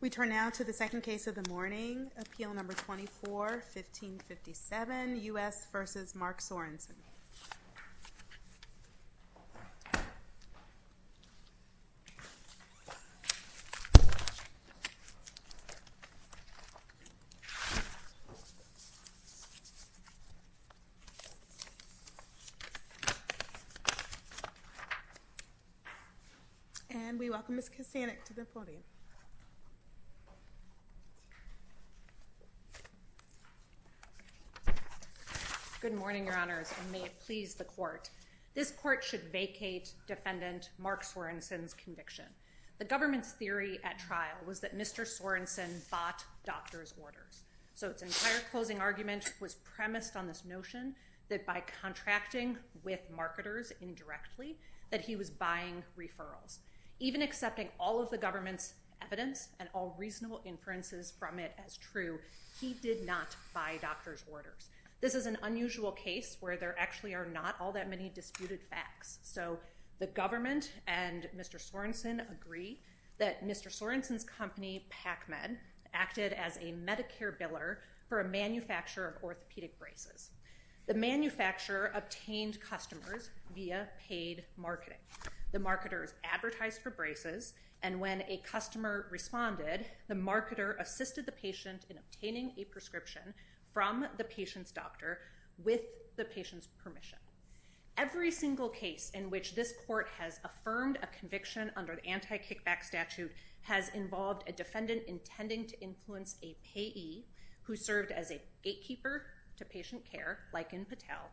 We turn now to the second case of the morning, Appeal No. 24-1557, U.S. v. Mark Sorensen. And we welcome Ms. Kasanick to the podium. Good morning, your honors, and may it please the court. This court should vacate defendant Mark Sorensen's conviction. The government's theory at trial was that Mr. Sorensen bought doctor's orders. So its entire closing argument was premised on this notion that by contracting with marketers indirectly that he was buying referrals. Even accepting all of the government's evidence and all reasonable inferences from it as true, he did not buy doctor's orders. This is an unusual case where there actually are not all that many disputed facts. So the government and Mr. Sorensen agree that Mr. Sorensen's company, PacMed, acted as a Medicare biller for a manufacturer of orthopedic braces. The manufacturer obtained customers via paid marketing. The marketers advertised for braces, and when a customer responded, the marketer assisted the patient in obtaining a prescription from the patient's doctor with the patient's permission. Every single case in which this court has affirmed a conviction under the anti-kickback statute has involved a defendant intending to influence a payee who served as a gatekeeper to patient care, like in Patel,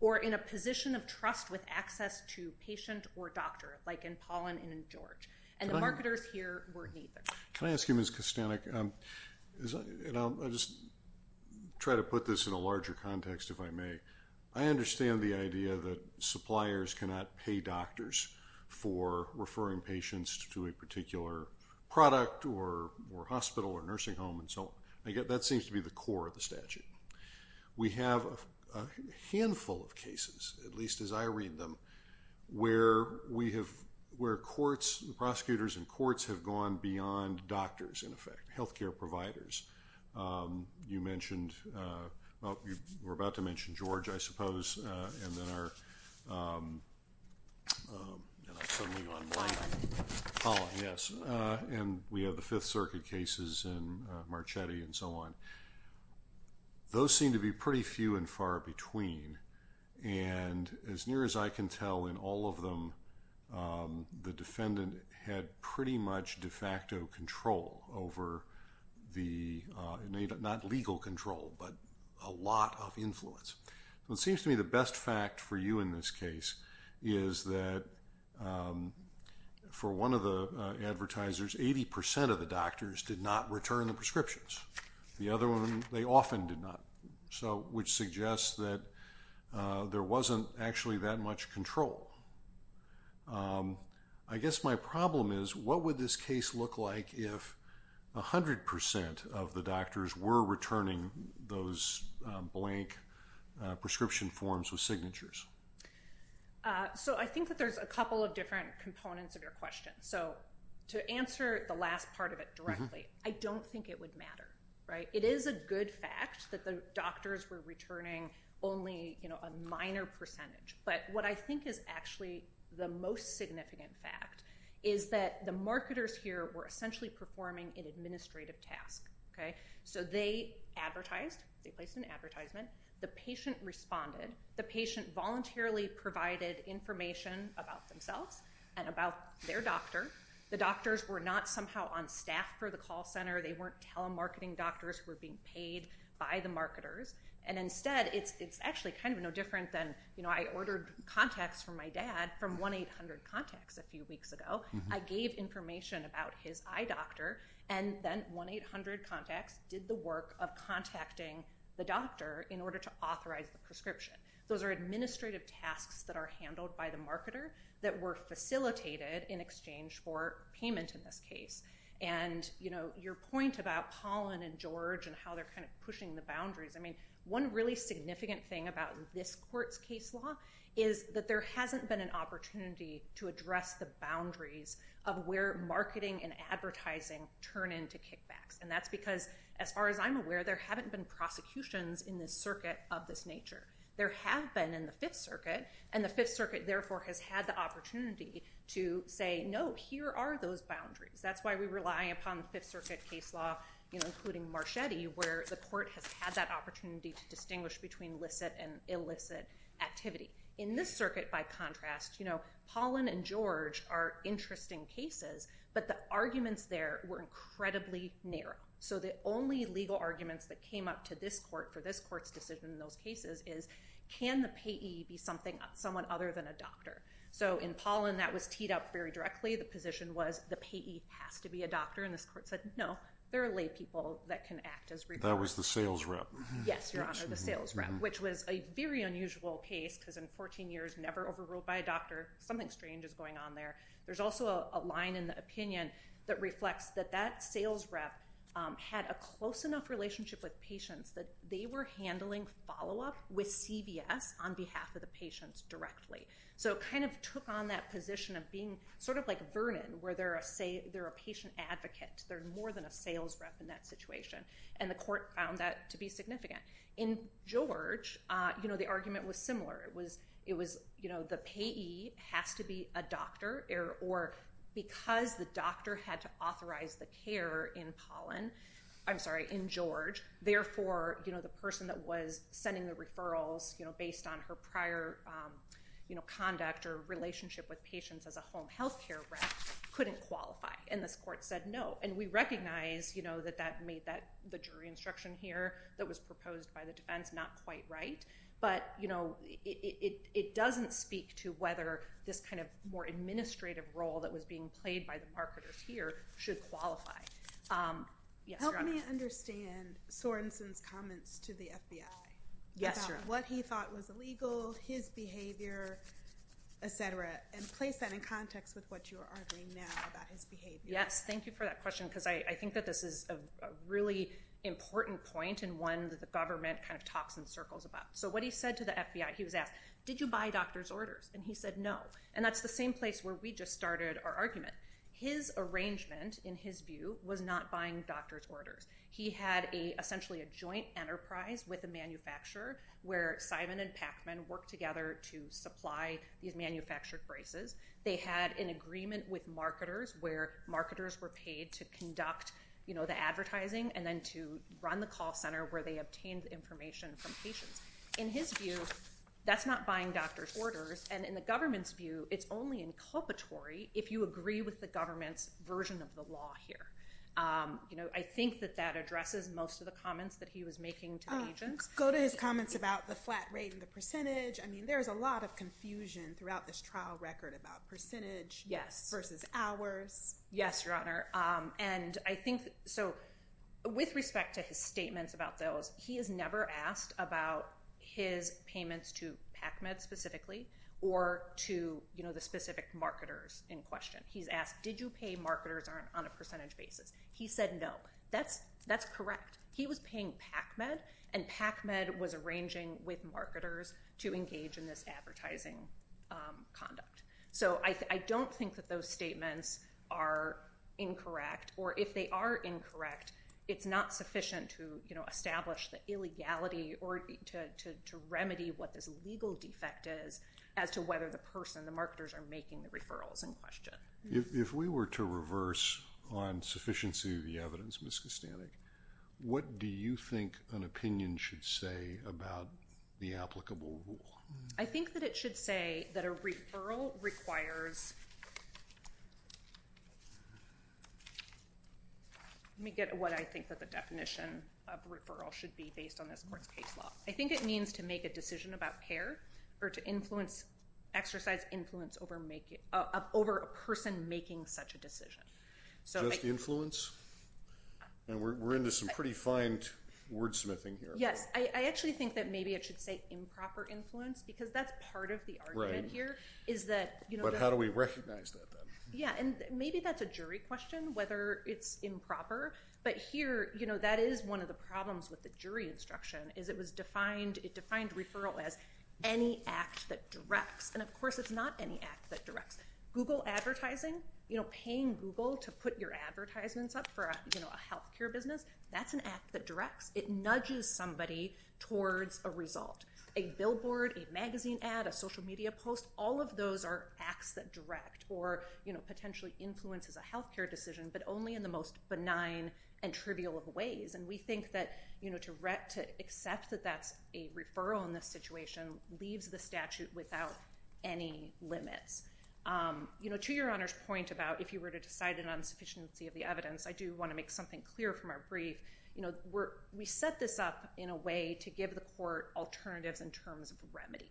or in a position of trust with access to patient or doctor, like in Paulin and in George. And the marketers here were neither. Can I ask you, Ms. Kostanek, and I'll just try to put this in a larger context if I may. I understand the idea that suppliers cannot pay doctors for referring patients to a particular product or hospital or nursing home and so on. That seems to be the core of the statute. We have a handful of cases, at least as I read them, where we have, where courts, prosecutors in courts have gone beyond doctors, in effect, health care providers. You mentioned, well, you were about to mention George, I suppose, and then our, and I'm suddenly and so on. Those seem to be pretty few and far between, and as near as I can tell in all of them, the defendant had pretty much de facto control over the, not legal control, but a lot of influence. It seems to me the best fact for you in this case is that for one of the advertisers, 80% of the doctors did not return the prescriptions. The other one, they often did not, which suggests that there wasn't actually that much control. I guess my problem is, what would this case look like if 100% of the doctors were returning those blank prescription forms with signatures? I think that there's a couple of different components of your question. To answer the last part of it directly, I don't think it would matter. It is a good fact that the doctors were returning only a minor percentage, but what I think is actually the most significant fact is that the marketers here were essentially performing an administrative task. They advertised, they placed an advertisement, the patient responded, the patient voluntarily provided information about themselves and about their doctor. The doctors were not somehow on staff for the call center. They weren't telemarketing doctors who were being paid by the marketers. Instead, it's actually no different than I ordered contacts from my dad from 1-800-CONTACTS a few weeks ago. I gave information about his eye doctor, and then 1-800-CONTACTS did the work of contacting the doctor in order to authorize the prescription. Those are administrative tasks that are handled by the marketer that were facilitated in exchange for payment in this case. Your point about Pollen and George and how they're pushing the boundaries, one really significant thing about this court's case law is that there hasn't been an opportunity to address the boundaries of where marketing and advertising turn into kickbacks. That's because, as far as I'm aware, there haven't been prosecutions in this circuit of this nature. There have been in the Fifth Circuit, and the Fifth Circuit, therefore, has had the opportunity to say, no, here are those boundaries. That's why we rely upon the Fifth Circuit case law, including Marchetti, where the court has had that opportunity to distinguish between licit and illicit activity. In this circuit, by contrast, Pollen and George are interesting cases, but the arguments there were incredibly narrow. The only legal arguments that came up to this court for this court's decision in those cases is, can the payee be someone other than a doctor? In Pollen, that was teed up very directly. The position was, the payee has to be a doctor, and this court said, no, there are lay people that can act as reviewers. That was the sales rep. Yes, Your Honor, the sales rep, which was a very unusual case, because in 14 years, never overruled by a doctor. Something strange is going on there. There's also a line in the opinion that reflects that that sales rep had a close enough relationship with patients that they were handling follow-up with CVS on behalf of the patients directly. It took on that position of being like Vernon, where they're a patient advocate. They're more than a sales rep in that situation, and the court found that to be significant. In George, the argument was similar. The payee has to be a doctor, or because the doctor had to authorize the care in George, therefore the person that was sending the referrals based on her prior conduct or relationship with patients as a home health care rep couldn't qualify, and this court said no. We recognize that that made the jury instruction here that was proposed by the defense not quite right, but it doesn't speak to whether this kind of more administrative role that was being played by the marketers here should qualify. Yes, Your Honor. Help me understand Sorenson's comments to the FBI about what he thought was illegal, his behavior, et cetera, and place that in context with what you are arguing now about his behavior. Yes, thank you for that question, because I think that this is a really important point and one that the government kind of talks in circles about. So what he said to the FBI, he was asked, did you buy doctor's orders? And he said no, and that's the same place where we just started our argument. His arrangement, in his view, was not buying doctor's orders. He had essentially a joint enterprise with a manufacturer where Simon and Pacman worked together to supply these manufactured braces. They had an agreement with marketers where marketers were paid to conduct the advertising and then to run the call center where they obtained information from patients. In his view, that's not buying doctor's orders, and in the government's view, it's only inculpatory if you agree with the government's version of the law here. I think that that addresses most of the comments that he was making to the agents. Go to his comments about the flat rate and the percentage. I mean, there is a lot of confusion throughout this trial record about percentage versus hours. Yes, Your Honor. And I think, so with respect to his statements about those, he has never asked about his payments to Pacman specifically or to the specific marketers in question. He's asked, did you pay marketers on a percentage basis? He said no. That's correct. He was paying Pacman, and Pacman was arranging with marketers to engage in this advertising conduct. So I don't think that those statements are incorrect, or if they are incorrect, it's not sufficient to establish the illegality or to remedy what this legal defect is as to whether the person, the marketers, are making the referrals in question. If we were to reverse on sufficiency of the evidence, Ms. Kostanek, what do you think an opinion should say about the applicable rule? I think that it should say that a referral requires, let me get what I think that the definition of referral should be based on this court's case law. I think it means to make a decision about care or to influence, exercise influence over a person making such a decision. Just influence? And we're into some pretty fine wordsmithing here. Yes. I actually think that maybe it should say improper influence, because that's part of the argument here. But how do we recognize that, then? Yeah, and maybe that's a jury question, whether it's improper. But here, that is one of the problems with the jury instruction, is it defined referral as any act that directs. And of course, it's not any act that directs. Google advertising, paying Google to put your advertisements up for a health care business, that's an act that directs. It nudges somebody towards a result. A billboard, a magazine ad, a social media post, all of those are acts that direct or potentially influences a health care decision, but only in the most benign and trivial of ways. And we think that to accept that that's a referral in this situation leaves the statute without any limits. To your Honor's point about if you were to decide an insufficiency of the evidence, I think we want to make something clear from our brief, we set this up in a way to give the court alternatives in terms of remedy.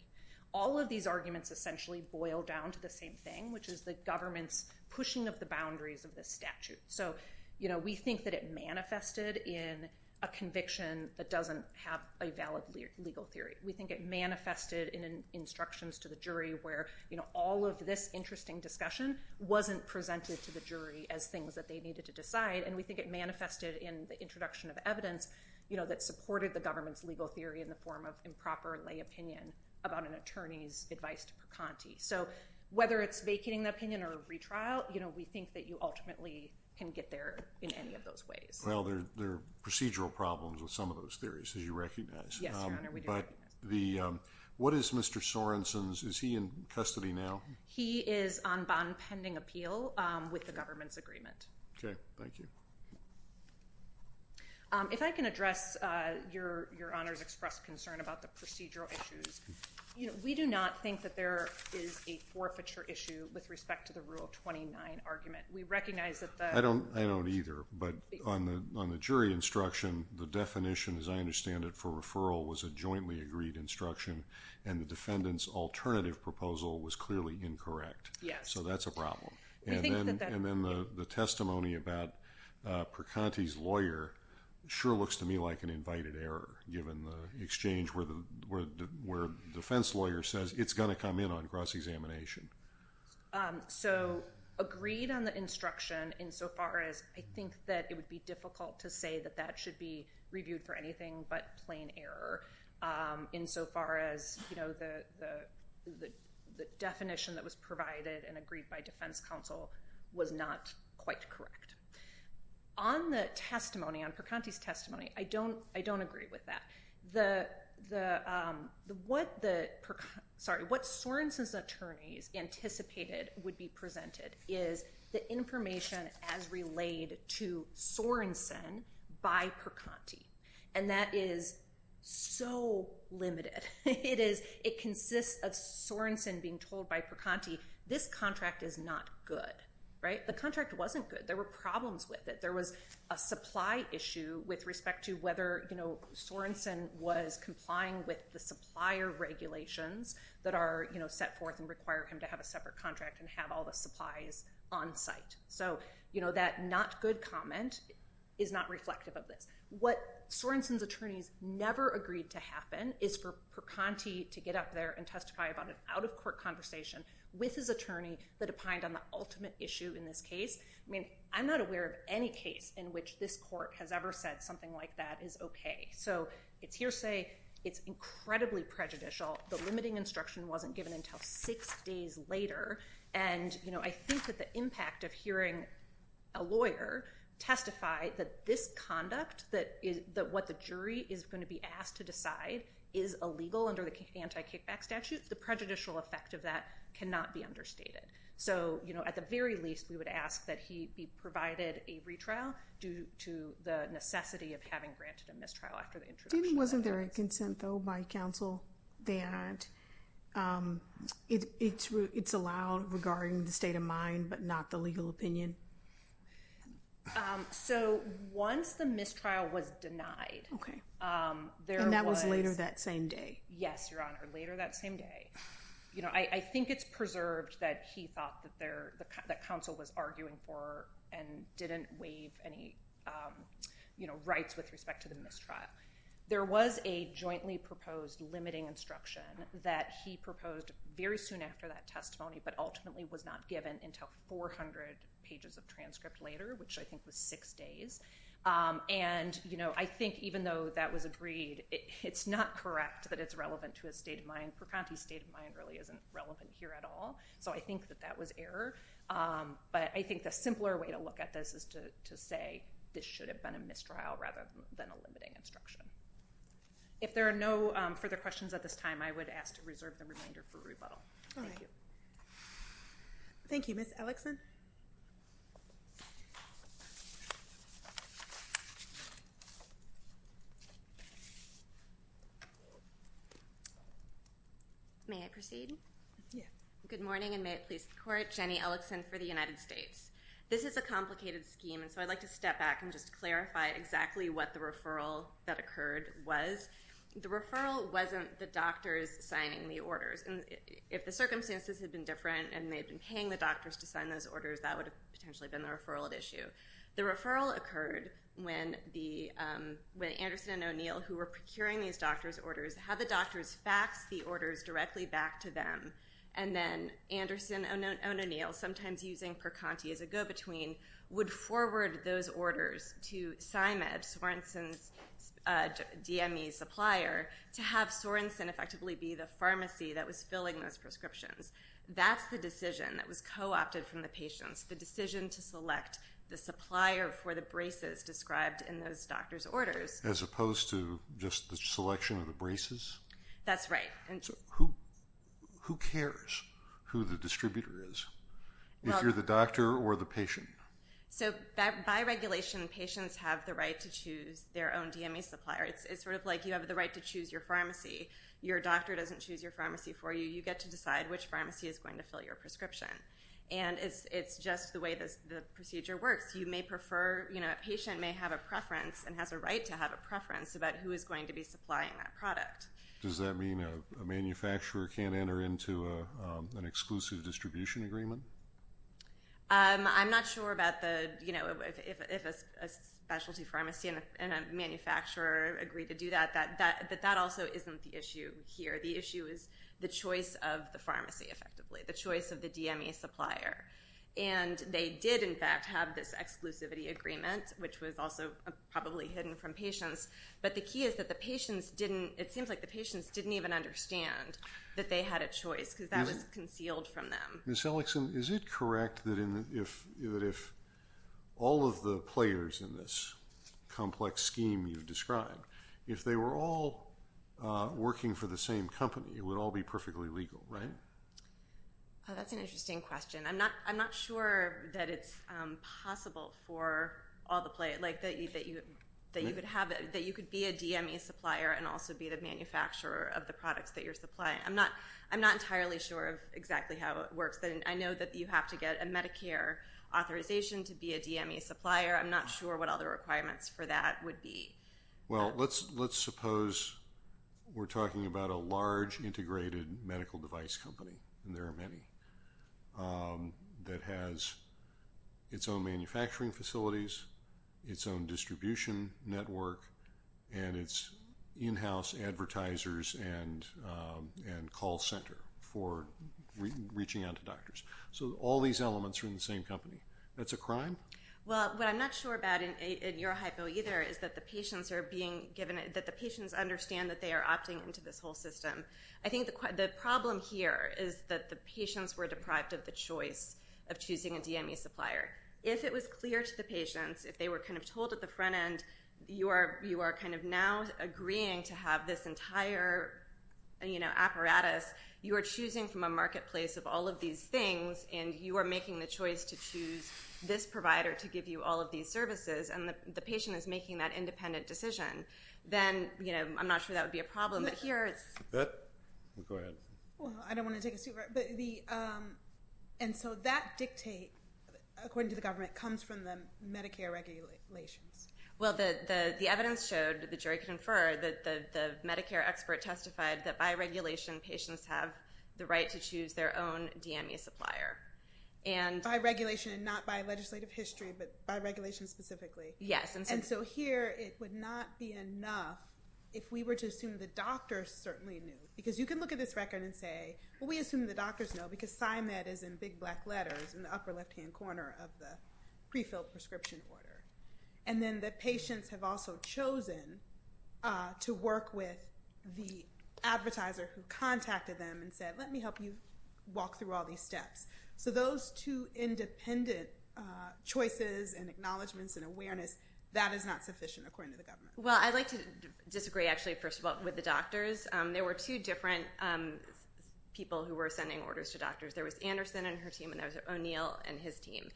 All of these arguments essentially boil down to the same thing, which is the government's pushing of the boundaries of this statute. So we think that it manifested in a conviction that doesn't have a valid legal theory. We think it manifested in instructions to the jury where all of this interesting discussion wasn't presented to the jury as things that they needed to decide, and we think it manifested in the introduction of evidence that supported the government's legal theory in the form of improper lay opinion about an attorney's advice to Percanti. So whether it's vacating the opinion or a retrial, we think that you ultimately can get there in any of those ways. Well, there are procedural problems with some of those theories, as you recognize. Yes, Your Honor, we do recognize. What is Mr. Sorenson's, is he in custody now? He is on bond pending appeal with the government's agreement. Okay, thank you. If I can address Your Honor's expressed concern about the procedural issues. We do not think that there is a forfeiture issue with respect to the Rule 29 argument. We recognize that the... I don't either, but on the jury instruction, the definition, as I understand it, for referral was a jointly agreed instruction, and the defendant's alternative proposal was clearly incorrect. Yes. So that's a problem. And then the testimony about Percanti's lawyer sure looks to me like an invited error, given the exchange where the defense lawyer says, it's going to come in on cross-examination. So, agreed on the instruction insofar as I think that it would be difficult to say that that should be reviewed for anything but plain error. Insofar as the definition that was provided and agreed by defense counsel was not quite correct. On the testimony, on Percanti's testimony, I don't agree with that. What Sorenson's attorneys anticipated would be presented is the information as relayed to Sorenson by Percanti. And that is so limited. It consists of Sorenson being told by Percanti, this contract is not good. The contract wasn't good. There were problems with it. There was a supply issue with respect to whether Sorenson was complying with the supplier regulations that are set forth and require him to have a separate contract and have all the supplies on site. So, you know, that not good comment is not reflective of this. What Sorenson's attorneys never agreed to happen is for Percanti to get up there and testify about an out-of-court conversation with his attorney that opined on the ultimate issue in this case. I mean, I'm not aware of any case in which this court has ever said something like that is okay. So, it's hearsay. It's incredibly prejudicial. The limiting instruction wasn't given until six days later. And, you know, I think that the impact of hearing a lawyer testify that this conduct, that what the jury is going to be asked to decide is illegal under the anti-kickback statute, the prejudicial effect of that cannot be understated. So, you know, at the very least, we would ask that he be provided a retrial due to the necessity of having granted a mistrial after the introduction. Wasn't there a consent, though, by counsel that it's allowed regarding the state of mind but not the legal opinion? So, once the mistrial was denied, there was... And that was later that same day. Yes, Your Honor, later that same day. You know, I think it's preserved that he thought that counsel was arguing for and didn't waive any rights with respect to the mistrial. There was a jointly proposed limiting instruction that he proposed very soon after that testimony but ultimately was not given until 400 pages of transcript later, which I think was six days. And, you know, I think even though that was agreed, it's not correct that it's relevant to his state of mind. Percanti's state of mind really isn't relevant here at all. So, I think that that was error. But I think the simpler way to look at this is to say this should have been a mistrial rather than a limiting instruction. If there are no further questions at this time, I would ask to reserve the remainder for rebuttal. Thank you. Thank you. Ms. Ellickson? May I proceed? Yeah. Good morning, and may it please the Court. Jenny Ellickson for the United States. This is a complicated scheme, and so I'd like to step back and just clarify exactly what the referral that occurred was. The referral wasn't the doctors signing the orders. And if the circumstances had been different and they'd been paying the doctors to sign those orders, that would have potentially been the referral at issue. The referral occurred when Anderson and O'Neill, who were procuring these doctors' orders, had the doctors fax the orders directly back to them. And then Anderson and O'Neill, sometimes using Percanti as a go-between, would forward those orders to PsyMed, Sorenson's DME supplier, to have Sorenson effectively be the pharmacy that was filling those prescriptions. That's the decision that was co-opted from the patients, the decision to select the supplier for the braces described in those doctors' orders. As opposed to just the selection of the braces? That's right. So who cares who the distributor is, if you're the doctor or the patient? So by regulation, patients have the right to choose their own DME supplier. It's sort of like you have the right to choose your pharmacy. Your doctor doesn't choose your pharmacy for you. You get to decide which pharmacy is going to fill your prescription. And it's just the way the procedure works. A patient may have a preference and has a right to have a preference about who is going to be supplying that product. Does that mean a manufacturer can't enter into an exclusive distribution agreement? I'm not sure if a specialty pharmacy and a manufacturer agree to do that. But that also isn't the issue here. The issue is the choice of the pharmacy, effectively, the choice of the DME supplier. And they did, in fact, have this exclusivity agreement, which was also probably hidden from patients. But the key is that it seems like the patients didn't even understand that they had a choice because that was concealed from them. Ms. Ellickson, is it correct that if all of the players in this complex scheme you've described, if they were all working for the same company, it would all be perfectly legal, right? That's an interesting question. I'm not sure that it's possible for all the players, that you could be a DME supplier and also be the manufacturer of the products that you're supplying. I'm not entirely sure of exactly how it works. I know that you have to get a Medicare authorization to be a DME supplier. I'm not sure what all the requirements for that would be. Well, let's suppose we're talking about a large integrated medical device company, and there are many, that has its own manufacturing facilities, its own distribution network, and its in-house advertisers and call center for reaching out to doctors. So all these elements are in the same company. That's a crime? Well, what I'm not sure about in your hypo either is that the patients understand that they are opting into this whole system. I think the problem here is that the patients were deprived of the choice of choosing a DME supplier. If it was clear to the patients, if they were kind of told at the front end, you are kind of now agreeing to have this entire apparatus, you are choosing from a marketplace of all of these things, and you are making the choice to choose this provider to give you all of these services, and the patient is making that independent decision, then I'm not sure that would be a problem. Go ahead. Well, I don't want to take a step back. And so that dictate, according to the government, comes from the Medicare regulations. Well, the evidence showed, the jury conferred, that the Medicare expert testified that by regulation, patients have the right to choose their own DME supplier. By regulation and not by legislative history, but by regulation specifically? Yes. And so here it would not be enough if we were to assume the doctors certainly knew, because you can look at this record and say, well, we assume the doctors know because PsyMed is in big black letters in the upper left-hand corner of the pre-filled prescription order. And then the patients have also chosen to work with the advertiser who contacted them and said, let me help you walk through all these steps. So those two independent choices and acknowledgements and awareness, that is not sufficient, according to the government. Well, I'd like to disagree, actually, first of all, with the doctors. There were two different people who were sending orders to doctors. There was Anderson and her team, and there was O'Neill and his team.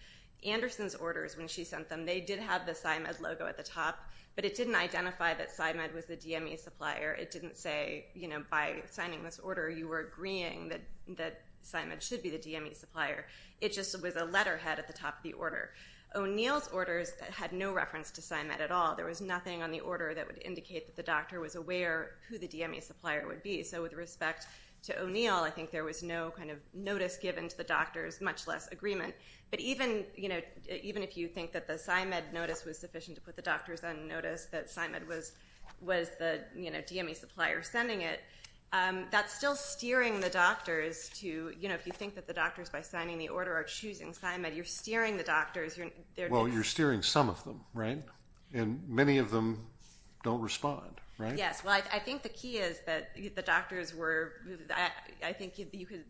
Anderson's orders, when she sent them, they did have the PsyMed logo at the top, but it didn't identify that PsyMed was the DME supplier. It didn't say, you know, by signing this order you were agreeing that PsyMed should be the DME supplier. It just was a letterhead at the top of the order. O'Neill's orders had no reference to PsyMed at all. There was nothing on the order that would indicate that the doctor was aware who the DME supplier would be. So with respect to O'Neill, I think there was no kind of notice given to the doctors, much less agreement. But even if you think that the PsyMed notice was sufficient to put the doctors on notice, that PsyMed was the DME supplier sending it, that's still steering the doctors to, you know, if you think that the doctors by signing the order are choosing PsyMed, you're steering the doctors. Well, you're steering some of them, right? And many of them don't respond, right? Yes. Well, I think the key is that the doctors were – I think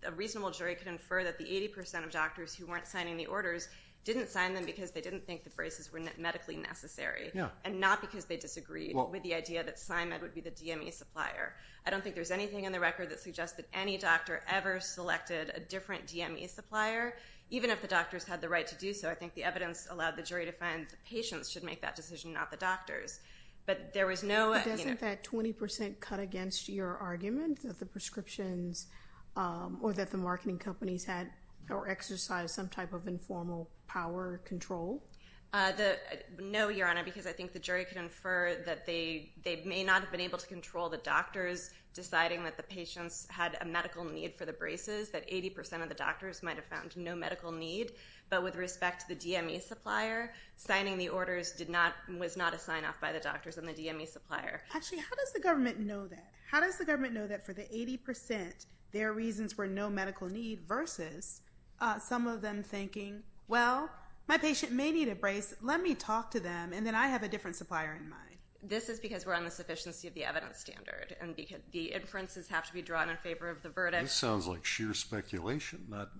a reasonable jury could infer that the 80 percent of doctors who weren't signing the orders didn't sign them because they didn't think the braces were medically necessary and not because they disagreed with the idea that PsyMed would be the DME supplier. I don't think there's anything in the record that suggests that any doctor ever selected a different DME supplier, even if the doctors had the right to do so. I think the evidence allowed the jury to find the patients should make that decision, not the doctors. But there was no – But doesn't that 20 percent cut against your argument that the prescriptions – or that the marketing companies had or exercised some type of informal power control? No, Your Honor, because I think the jury could infer that they may not have been able to control the doctors deciding that the patients had a medical need for the braces, that 80 percent of the doctors might have found no medical need. But with respect to the DME supplier, signing the orders did not – was not a sign-off by the doctors and the DME supplier. Actually, how does the government know that? How does the government know that for the 80 percent, their reasons were no medical need versus some of them thinking, well, my patient may need a brace. Let me talk to them, and then I have a different supplier in mind. This is because we're on the sufficiency of the evidence standard, and the inferences have to be drawn in favor of the verdict. This sounds like sheer speculation, not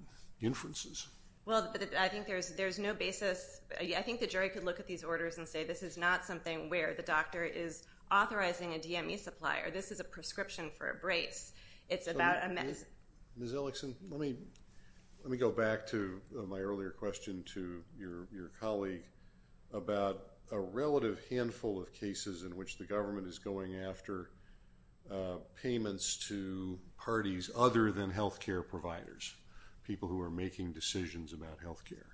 inferences. Well, I think there's no basis – I think the jury could look at these orders and say this is not something where the doctor is authorizing a DME supplier. This is a prescription for a brace. Ms. Ellickson, let me go back to my earlier question to your colleague about a relative handful of cases in which the government is going after payments to parties other than health care providers, people who are making decisions about health care.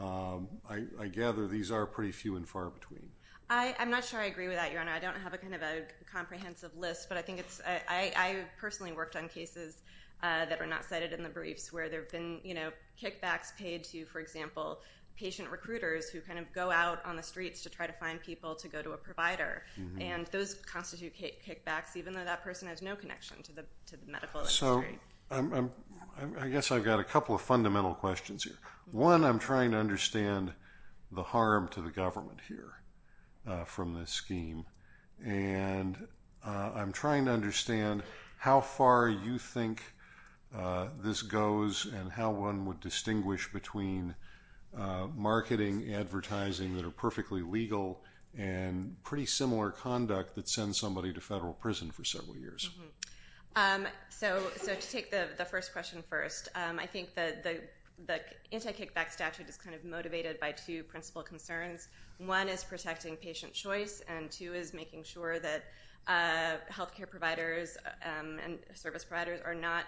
I gather these are pretty few and far between. I'm not sure I agree with that, Your Honor. I don't have a kind of a comprehensive list, but I think it's – I personally worked on cases that are not cited in the briefs where there have been kickbacks paid to, for example, patient recruiters who kind of go out on the streets to try to find people to go to a provider. And those constitute kickbacks, even though that person has no connection to the medical industry. So I guess I've got a couple of fundamental questions here. One, I'm trying to understand the harm to the government here from this scheme, and I'm trying to understand how far you think this goes and how one would distinguish between marketing, advertising that are perfectly legal, and pretty similar conduct that sends somebody to federal prison for several years. So to take the first question first, I think the anti-kickback statute is kind of motivated by two principal concerns. One is protecting patient choice, and two is making sure that health care providers and service providers are not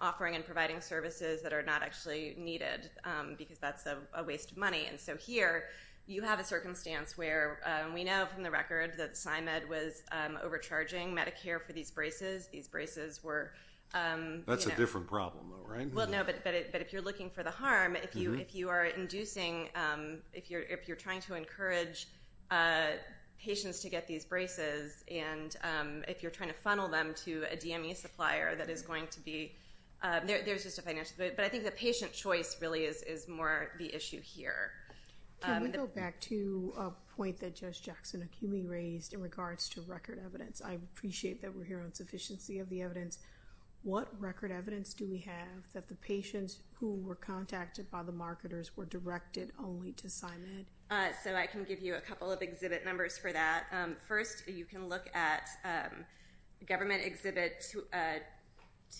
offering and providing services that are not actually needed because that's a waste of money. And so here, you have a circumstance where we know from the record that PsyMed was overcharging Medicare for these braces. These braces were— That's a different problem, though, right? Well, no, but if you're looking for the harm, if you are inducing— if you're trying to encourage patients to get these braces and if you're trying to funnel them to a DME supplier that is going to be— There's just a financial— But I think the patient choice really is more the issue here. Can we go back to a point that Judge Jackson-Akumi raised in regards to record evidence? I appreciate that we're here on sufficiency of the evidence. What record evidence do we have that the patients who were contacted by the marketers were directed only to PsyMed? So I can give you a couple of exhibit numbers for that. First, you can look at Government Exhibit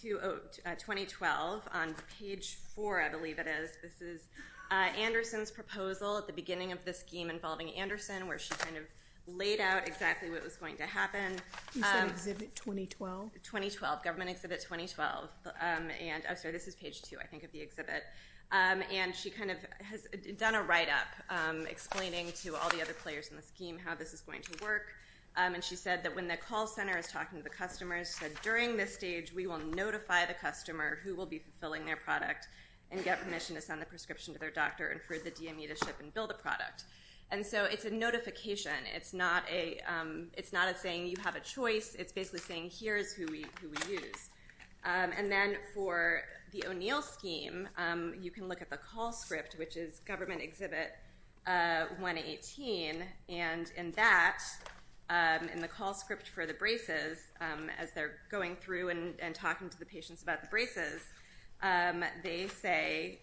2012 on page 4, I believe it is. This is Anderson's proposal at the beginning of the scheme involving Anderson, where she kind of laid out exactly what was going to happen. You said Exhibit 2012? 2012, Government Exhibit 2012. I'm sorry, this is page 2, I think, of the exhibit. And she kind of has done a write-up explaining to all the other players in the scheme how this is going to work. And she said that when the call center is talking to the customers, she said during this stage we will notify the customer who will be filling their product and get permission to send the prescription to their doctor and for the DME to ship and build a product. And so it's a notification. It's not a saying you have a choice. It's basically saying here is who we use. And then for the O'Neill scheme, you can look at the call script, which is Government Exhibit 118. And in that, in the call script for the braces, as they're going through and talking to the patients about the braces, they say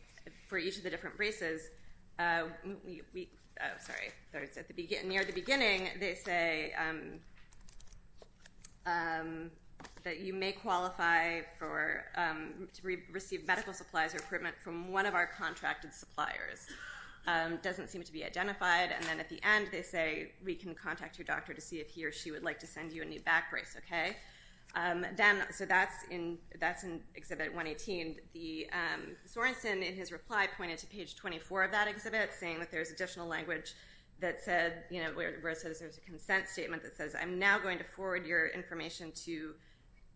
for each of the different braces, near the beginning, they say that you may qualify to receive medical supplies or equipment from one of our contracted suppliers. It doesn't seem to be identified. And then at the end, they say we can contact your doctor to see if he or she would like to send you a new back brace. So that's in Exhibit 118. Sorensen, in his reply, pointed to page 24 of that exhibit, saying that there's additional language that said, where it says there's a consent statement that says, I'm now going to forward your information to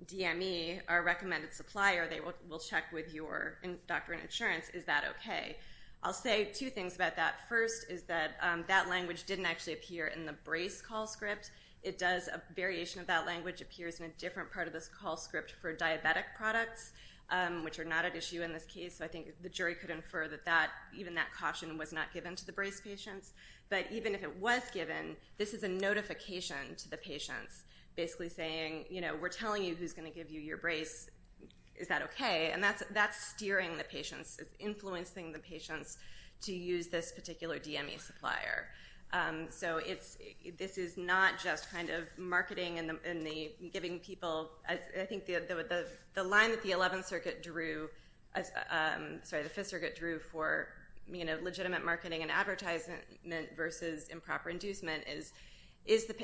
DME, our recommended supplier. They will check with your doctor and insurance. Is that okay? I'll say two things about that. First is that that language didn't actually appear in the brace call script. A variation of that language appears in a different part of this call script for diabetic products, which are not at issue in this case. So I think the jury could infer that even that caution was not given to the brace patients. But even if it was given, this is a notification to the patients, basically saying, we're telling you who's going to give you your brace. Is that okay? And that's steering the patients, influencing the patients to use this particular DME supplier. So this is not just kind of marketing and giving people. I think the line that the Fifth Circuit drew for legitimate marketing and advertisement versus improper inducement is,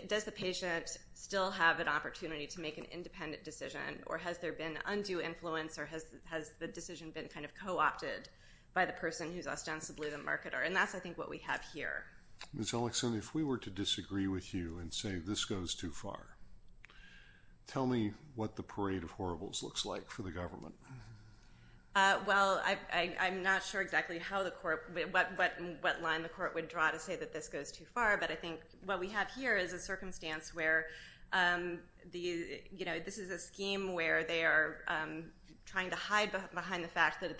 does the patient still have an opportunity to make an independent decision, or has there been undue influence, or has the decision been kind of co-opted by the person who's ostensibly the marketer? And that's, I think, what we have here. Ms. Ellickson, if we were to disagree with you and say this goes too far, tell me what the parade of horribles looks like for the government. Well, I'm not sure exactly what line the court would draw to say that this goes too far, but I think what we have here is a circumstance where this is a scheme where they are trying to hide behind the fact that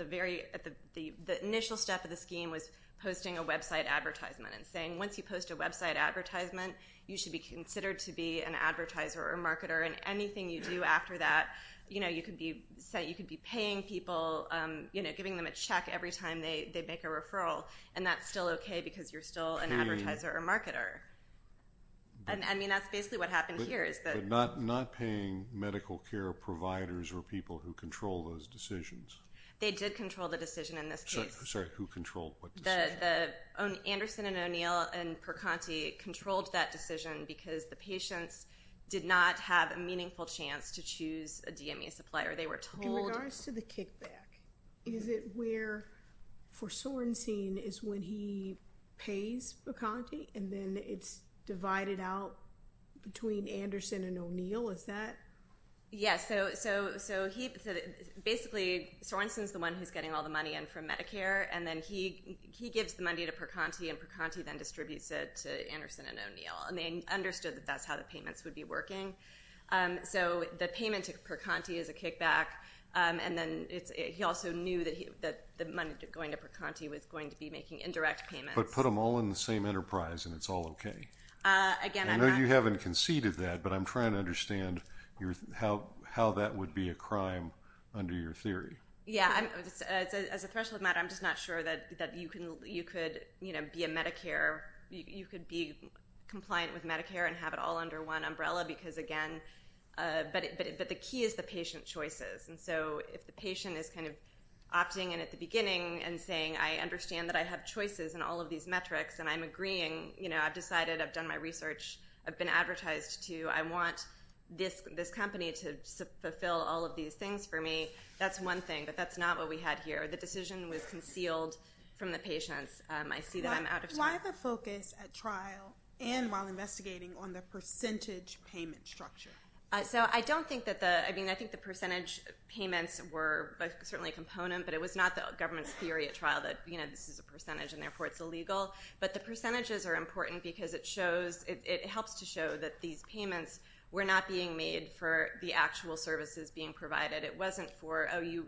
the initial step of the scheme was posting a website advertisement and saying once you post a website advertisement, you should be considered to be an advertiser or marketer, and anything you do after that, you know, you could be paying people, giving them a check every time they make a referral, and that's still okay because you're still an advertiser or marketer. I mean, that's basically what happened here. But not paying medical care providers or people who control those decisions. They did control the decision in this case. Sorry, who controlled what decision? Anderson and O'Neill and Percanti controlled that decision because the patients did not have a meaningful chance to choose a DME supplier. They were told. In regards to the kickback, is it where for Sorensen is when he pays Percanti and then it's divided out between Anderson and O'Neill, is that? Yeah, so basically Sorensen is the one who's getting all the money in from Medicare, and then he gives the money to Percanti, and Percanti then distributes it to Anderson and O'Neill, and they understood that that's how the payments would be working. So the payment to Percanti is a kickback, and then he also knew that the money going to Percanti was going to be making indirect payments. But put them all in the same enterprise and it's all okay. I know you haven't conceded that, but I'm trying to understand how that would be a crime under your theory. Yeah, as a threshold matter, I'm just not sure that you could be compliant with Medicare and have it all under one umbrella because, again, but the key is the patient choices. And so if the patient is kind of opting in at the beginning and saying, I understand that I have choices in all of these metrics and I'm agreeing, I've decided, I've done my research, I've been advertised to, I want this company to fulfill all of these things for me. That's one thing, but that's not what we had here. The decision was concealed from the patients. I see that I'm out of time. Why the focus at trial and while investigating on the percentage payment structure? So I don't think that the, I mean, I think the percentage payments were certainly a component, but it was not the government's theory at trial that this is a percentage and therefore it's illegal. But the percentages are important because it shows, it helps to show that these payments were not being made for the actual services being provided. It wasn't for, oh, you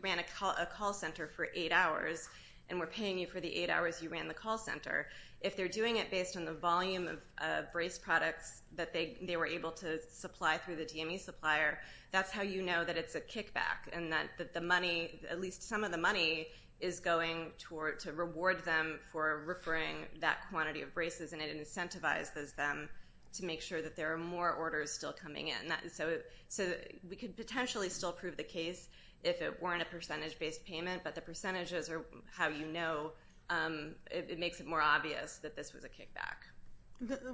ran a call center for eight hours and we're paying you for the eight hours you ran the call center. If they're doing it based on the volume of brace products that they were able to supply through the DME supplier, that's how you know that it's a kickback and that the money, at least some of the money is going toward to reward them for referring that quantity of braces and it incentivizes them to make sure that there are more orders still coming in. So we could potentially still prove the case if it weren't a percentage-based payment, but the percentages are how you know it makes it more obvious that this was a kickback.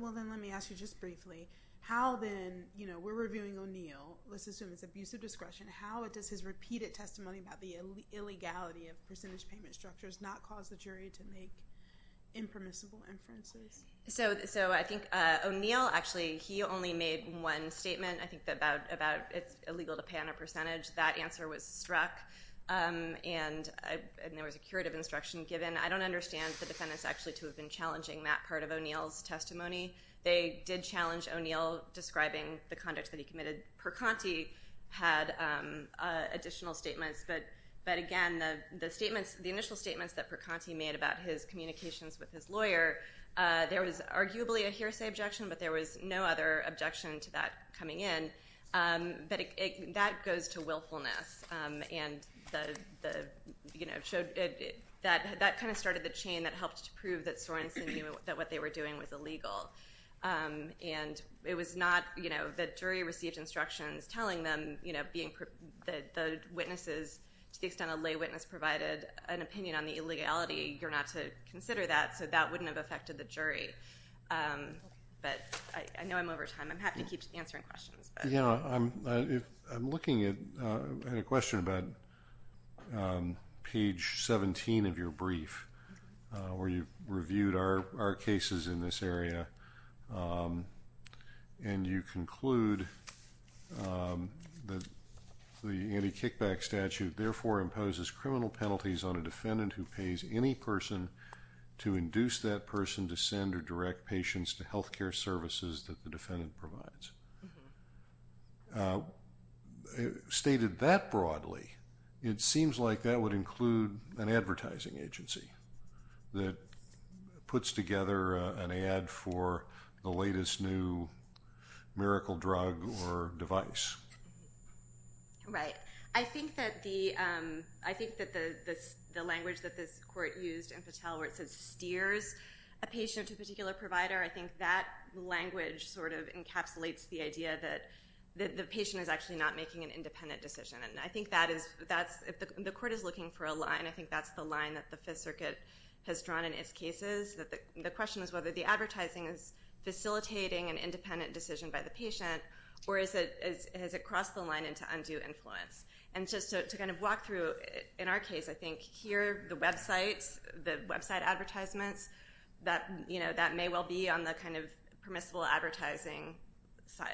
Well, then let me ask you just briefly, how then, you know, we're reviewing O'Neill. Let's assume it's abusive discretion. How does his repeated testimony about the illegality of percentage payment structures not cause the jury to make impermissible inferences? So I think O'Neill actually, he only made one statement, I think, about it's illegal to pay on a percentage. That answer was struck and there was a curative instruction given. I don't understand the defendants actually to have been challenging that part of O'Neill's testimony. They did challenge O'Neill describing the conduct that he committed. And then Percanti had additional statements. But again, the initial statements that Percanti made about his communications with his lawyer, there was arguably a hearsay objection, but there was no other objection to that coming in. But that goes to willfulness. That kind of started the chain that helped to prove that Sorensen knew that what they were doing was illegal. And it was not, you know, the jury received instructions telling them, you know, that the witnesses, to the extent a lay witness provided an opinion on the illegality, you're not to consider that, so that wouldn't have affected the jury. But I know I'm over time. I'm happy to keep answering questions. I'm looking at a question about page 17 of your brief where you reviewed our cases in this area and you conclude that the anti-kickback statute, therefore, imposes criminal penalties on a defendant who pays any person to induce that person to send or direct patients to health care services that the defendant provides. Stated that broadly, it seems like that would include an advertising agency that puts together an ad for the latest new miracle drug or device. Right. I think that the language that this court used in Patel where it says steers a patient to a particular provider, I think that language sort of encapsulates the idea that the patient is actually not making an independent decision. And I think that is, if the court is looking for a line, I think that's the line that the Fifth Circuit has drawn in its cases. The question is whether the advertising is facilitating an independent decision by the patient or has it crossed the line into undue influence? And just to kind of walk through, in our case, I think here, the website advertisements, that may well be on the kind of permissible advertising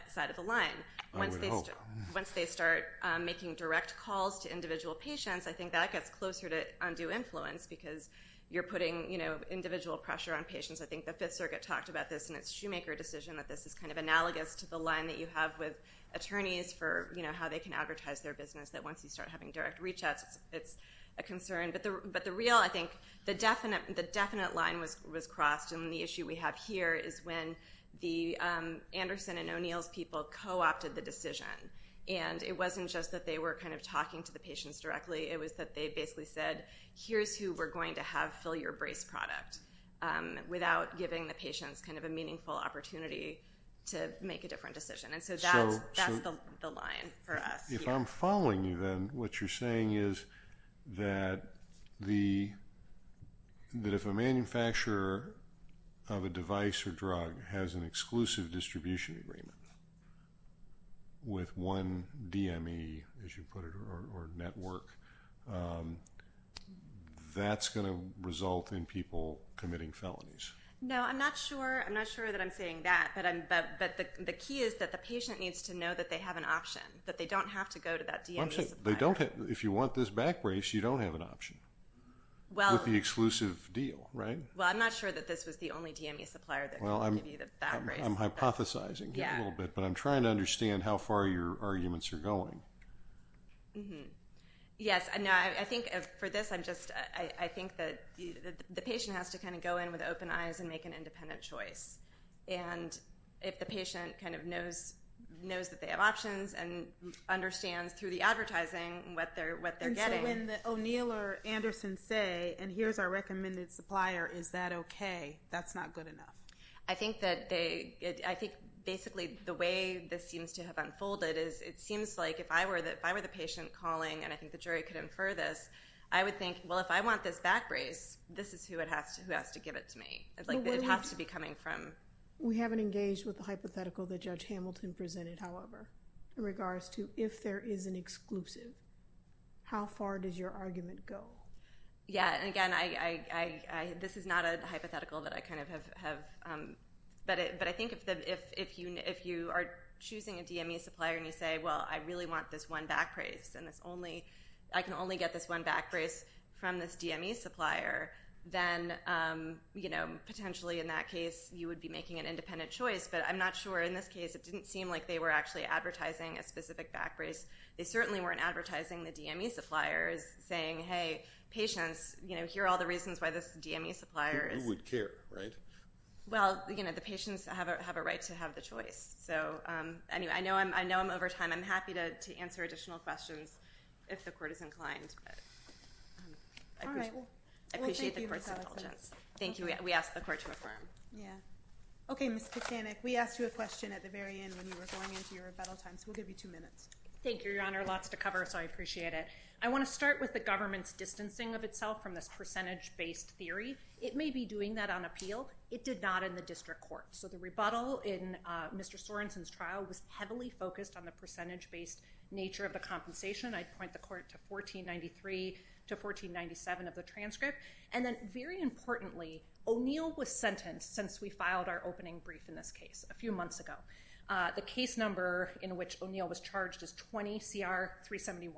side of the line. I would hope. Once they start making direct calls to individual patients, I think that gets closer to undue influence because you're putting individual pressure on patients. I think the Fifth Circuit talked about this in its Shoemaker decision, that this is kind of analogous to the line that you have with attorneys for how they can advertise their business, that once you start having direct reach-outs, it's a concern. But the real, I think, the definite line was crossed, and the issue we have here is when the Anderson and O'Neill's people co-opted the decision. And it wasn't just that they were kind of talking to the patients directly. It was that they basically said, here's who we're going to have fill your brace product without giving the patients kind of a meaningful opportunity to make a different decision. And so that's the line for us. If I'm following you, then what you're saying is that if a manufacturer of a device or drug has an exclusive distribution agreement with one DME, as you put it, or network, that's going to result in people committing felonies. No, I'm not sure that I'm saying that. But the key is that the patient needs to know that they have an option, that they don't have to go to that DME supplier. If you want this back brace, you don't have an option with the exclusive deal, right? Well, I'm not sure that this was the only DME supplier that could give you that back brace. I'm hypothesizing a little bit, but I'm trying to understand how far your arguments are going. Yes, I think for this, I think that the patient has to kind of go in with open eyes and make an independent choice. And if the patient kind of knows that they have options and understands through the advertising what they're getting. And so when O'Neill or Anderson say, and here's our recommended supplier, is that okay? That's not good enough. I think basically the way this seems to have unfolded is it seems like if I were the patient calling, and I think the jury could infer this, I would think, well, if I want this back brace, this is who has to give it to me. It has to be coming from. We haven't engaged with the hypothetical that Judge Hamilton presented, however, in regards to if there is an exclusive, how far does your argument go? Yes, and again, this is not a hypothetical that I kind of have. But I think if you are choosing a DME supplier and you say, well, I really want this one back brace and I can only get this one back brace from this DME supplier, then potentially in that case you would be making an independent choice. But I'm not sure in this case. It didn't seem like they were actually advertising a specific back brace. They certainly weren't advertising the DME suppliers saying, hey, patients, here are all the reasons why this DME supplier is. You would care, right? Well, you know, the patients have a right to have the choice. So anyway, I know I'm over time. I'm happy to answer additional questions if the court is inclined. But I appreciate the court's indulgence. Thank you. We ask the court to affirm. Yeah. Okay, Ms. Kucinich, we asked you a question at the very end when you were going into your rebuttal time, so we'll give you two minutes. Thank you, Your Honor. Lots to cover, so I appreciate it. I want to start with the government's distancing of itself from this percentage-based theory. It may be doing that on appeal. It did not in the district court. So the rebuttal in Mr. Sorensen's trial was heavily focused on the percentage-based nature of the compensation. I'd point the court to 1493 to 1497 of the transcript. And then, very importantly, O'Neill was sentenced since we filed our opening brief in this case a few months ago. The case number in which O'Neill was charged is 20CR371.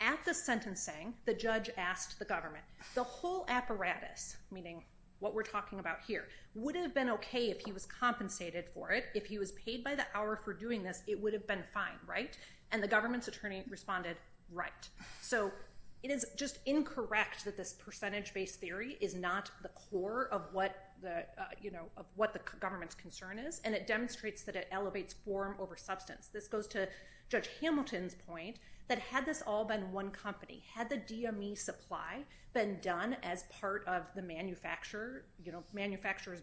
At the sentencing, the judge asked the government, the whole apparatus, meaning what we're talking about here, would have been okay if he was compensated for it. If he was paid by the hour for doing this, it would have been fine, right? And the government's attorney responded, right. So it is just incorrect that this percentage-based theory is not the core of what the government's concern is, and it demonstrates that it elevates form over substance. This goes to Judge Hamilton's point that had this all been one company, had the DME supply been done as part of the manufacturer's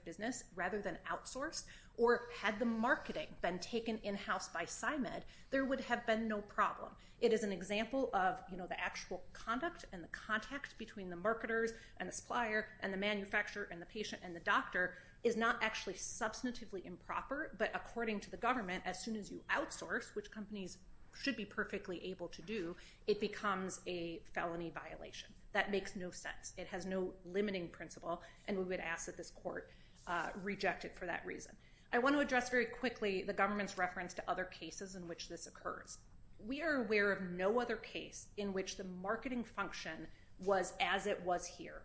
business rather than outsourced, or had the marketing been taken in-house by PsyMed, there would have been no problem. It is an example of the actual conduct and the contact between the marketers and the supplier and the manufacturer and the patient and the doctor is not actually substantively improper, but according to the government, as soon as you outsource, which companies should be perfectly able to do, it becomes a felony violation. That makes no sense. It has no limiting principle, and we would ask that this court reject it for that reason. I want to address very quickly the government's reference to other cases in which this occurs. We are aware of no other case in which the marketing function was as it was here,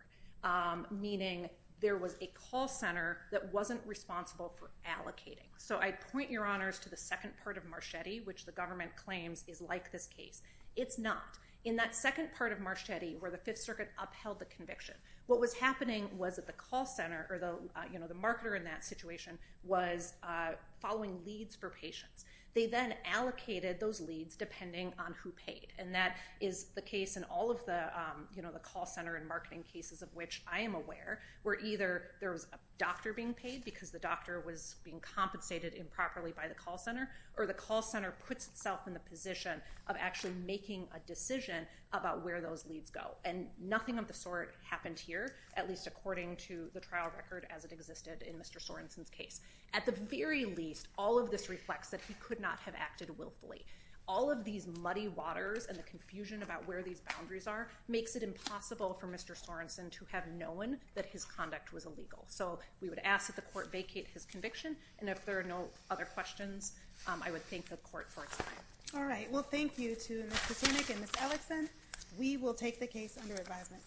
meaning there was a call center that wasn't responsible for allocating. So I point your honors to the second part of Marchetti, which the government claims is like this case. It's not. In that second part of Marchetti where the Fifth Circuit upheld the conviction, what was happening was that the call center or the marketer in that situation was following leads for patients. They then allocated those leads depending on who paid, and that is the case in all of the call center and marketing cases of which I am aware, where either there was a doctor being paid because the doctor was being compensated improperly by the call center, or the call center puts itself in the position of actually making a decision about where those leads go, and nothing of the sort happened here, at least according to the trial record as it existed in Mr. Sorenson's case. At the very least, all of this reflects that he could not have acted willfully. All of these muddy waters and the confusion about where these boundaries are makes it impossible for Mr. Sorenson to have known that his conduct was illegal. So we would ask that the court vacate his conviction. And if there are no other questions, I would thank the court for its time. All right. Well, thank you to Ms. Kucinich and Ms. Ellison. We will take the case under advisement.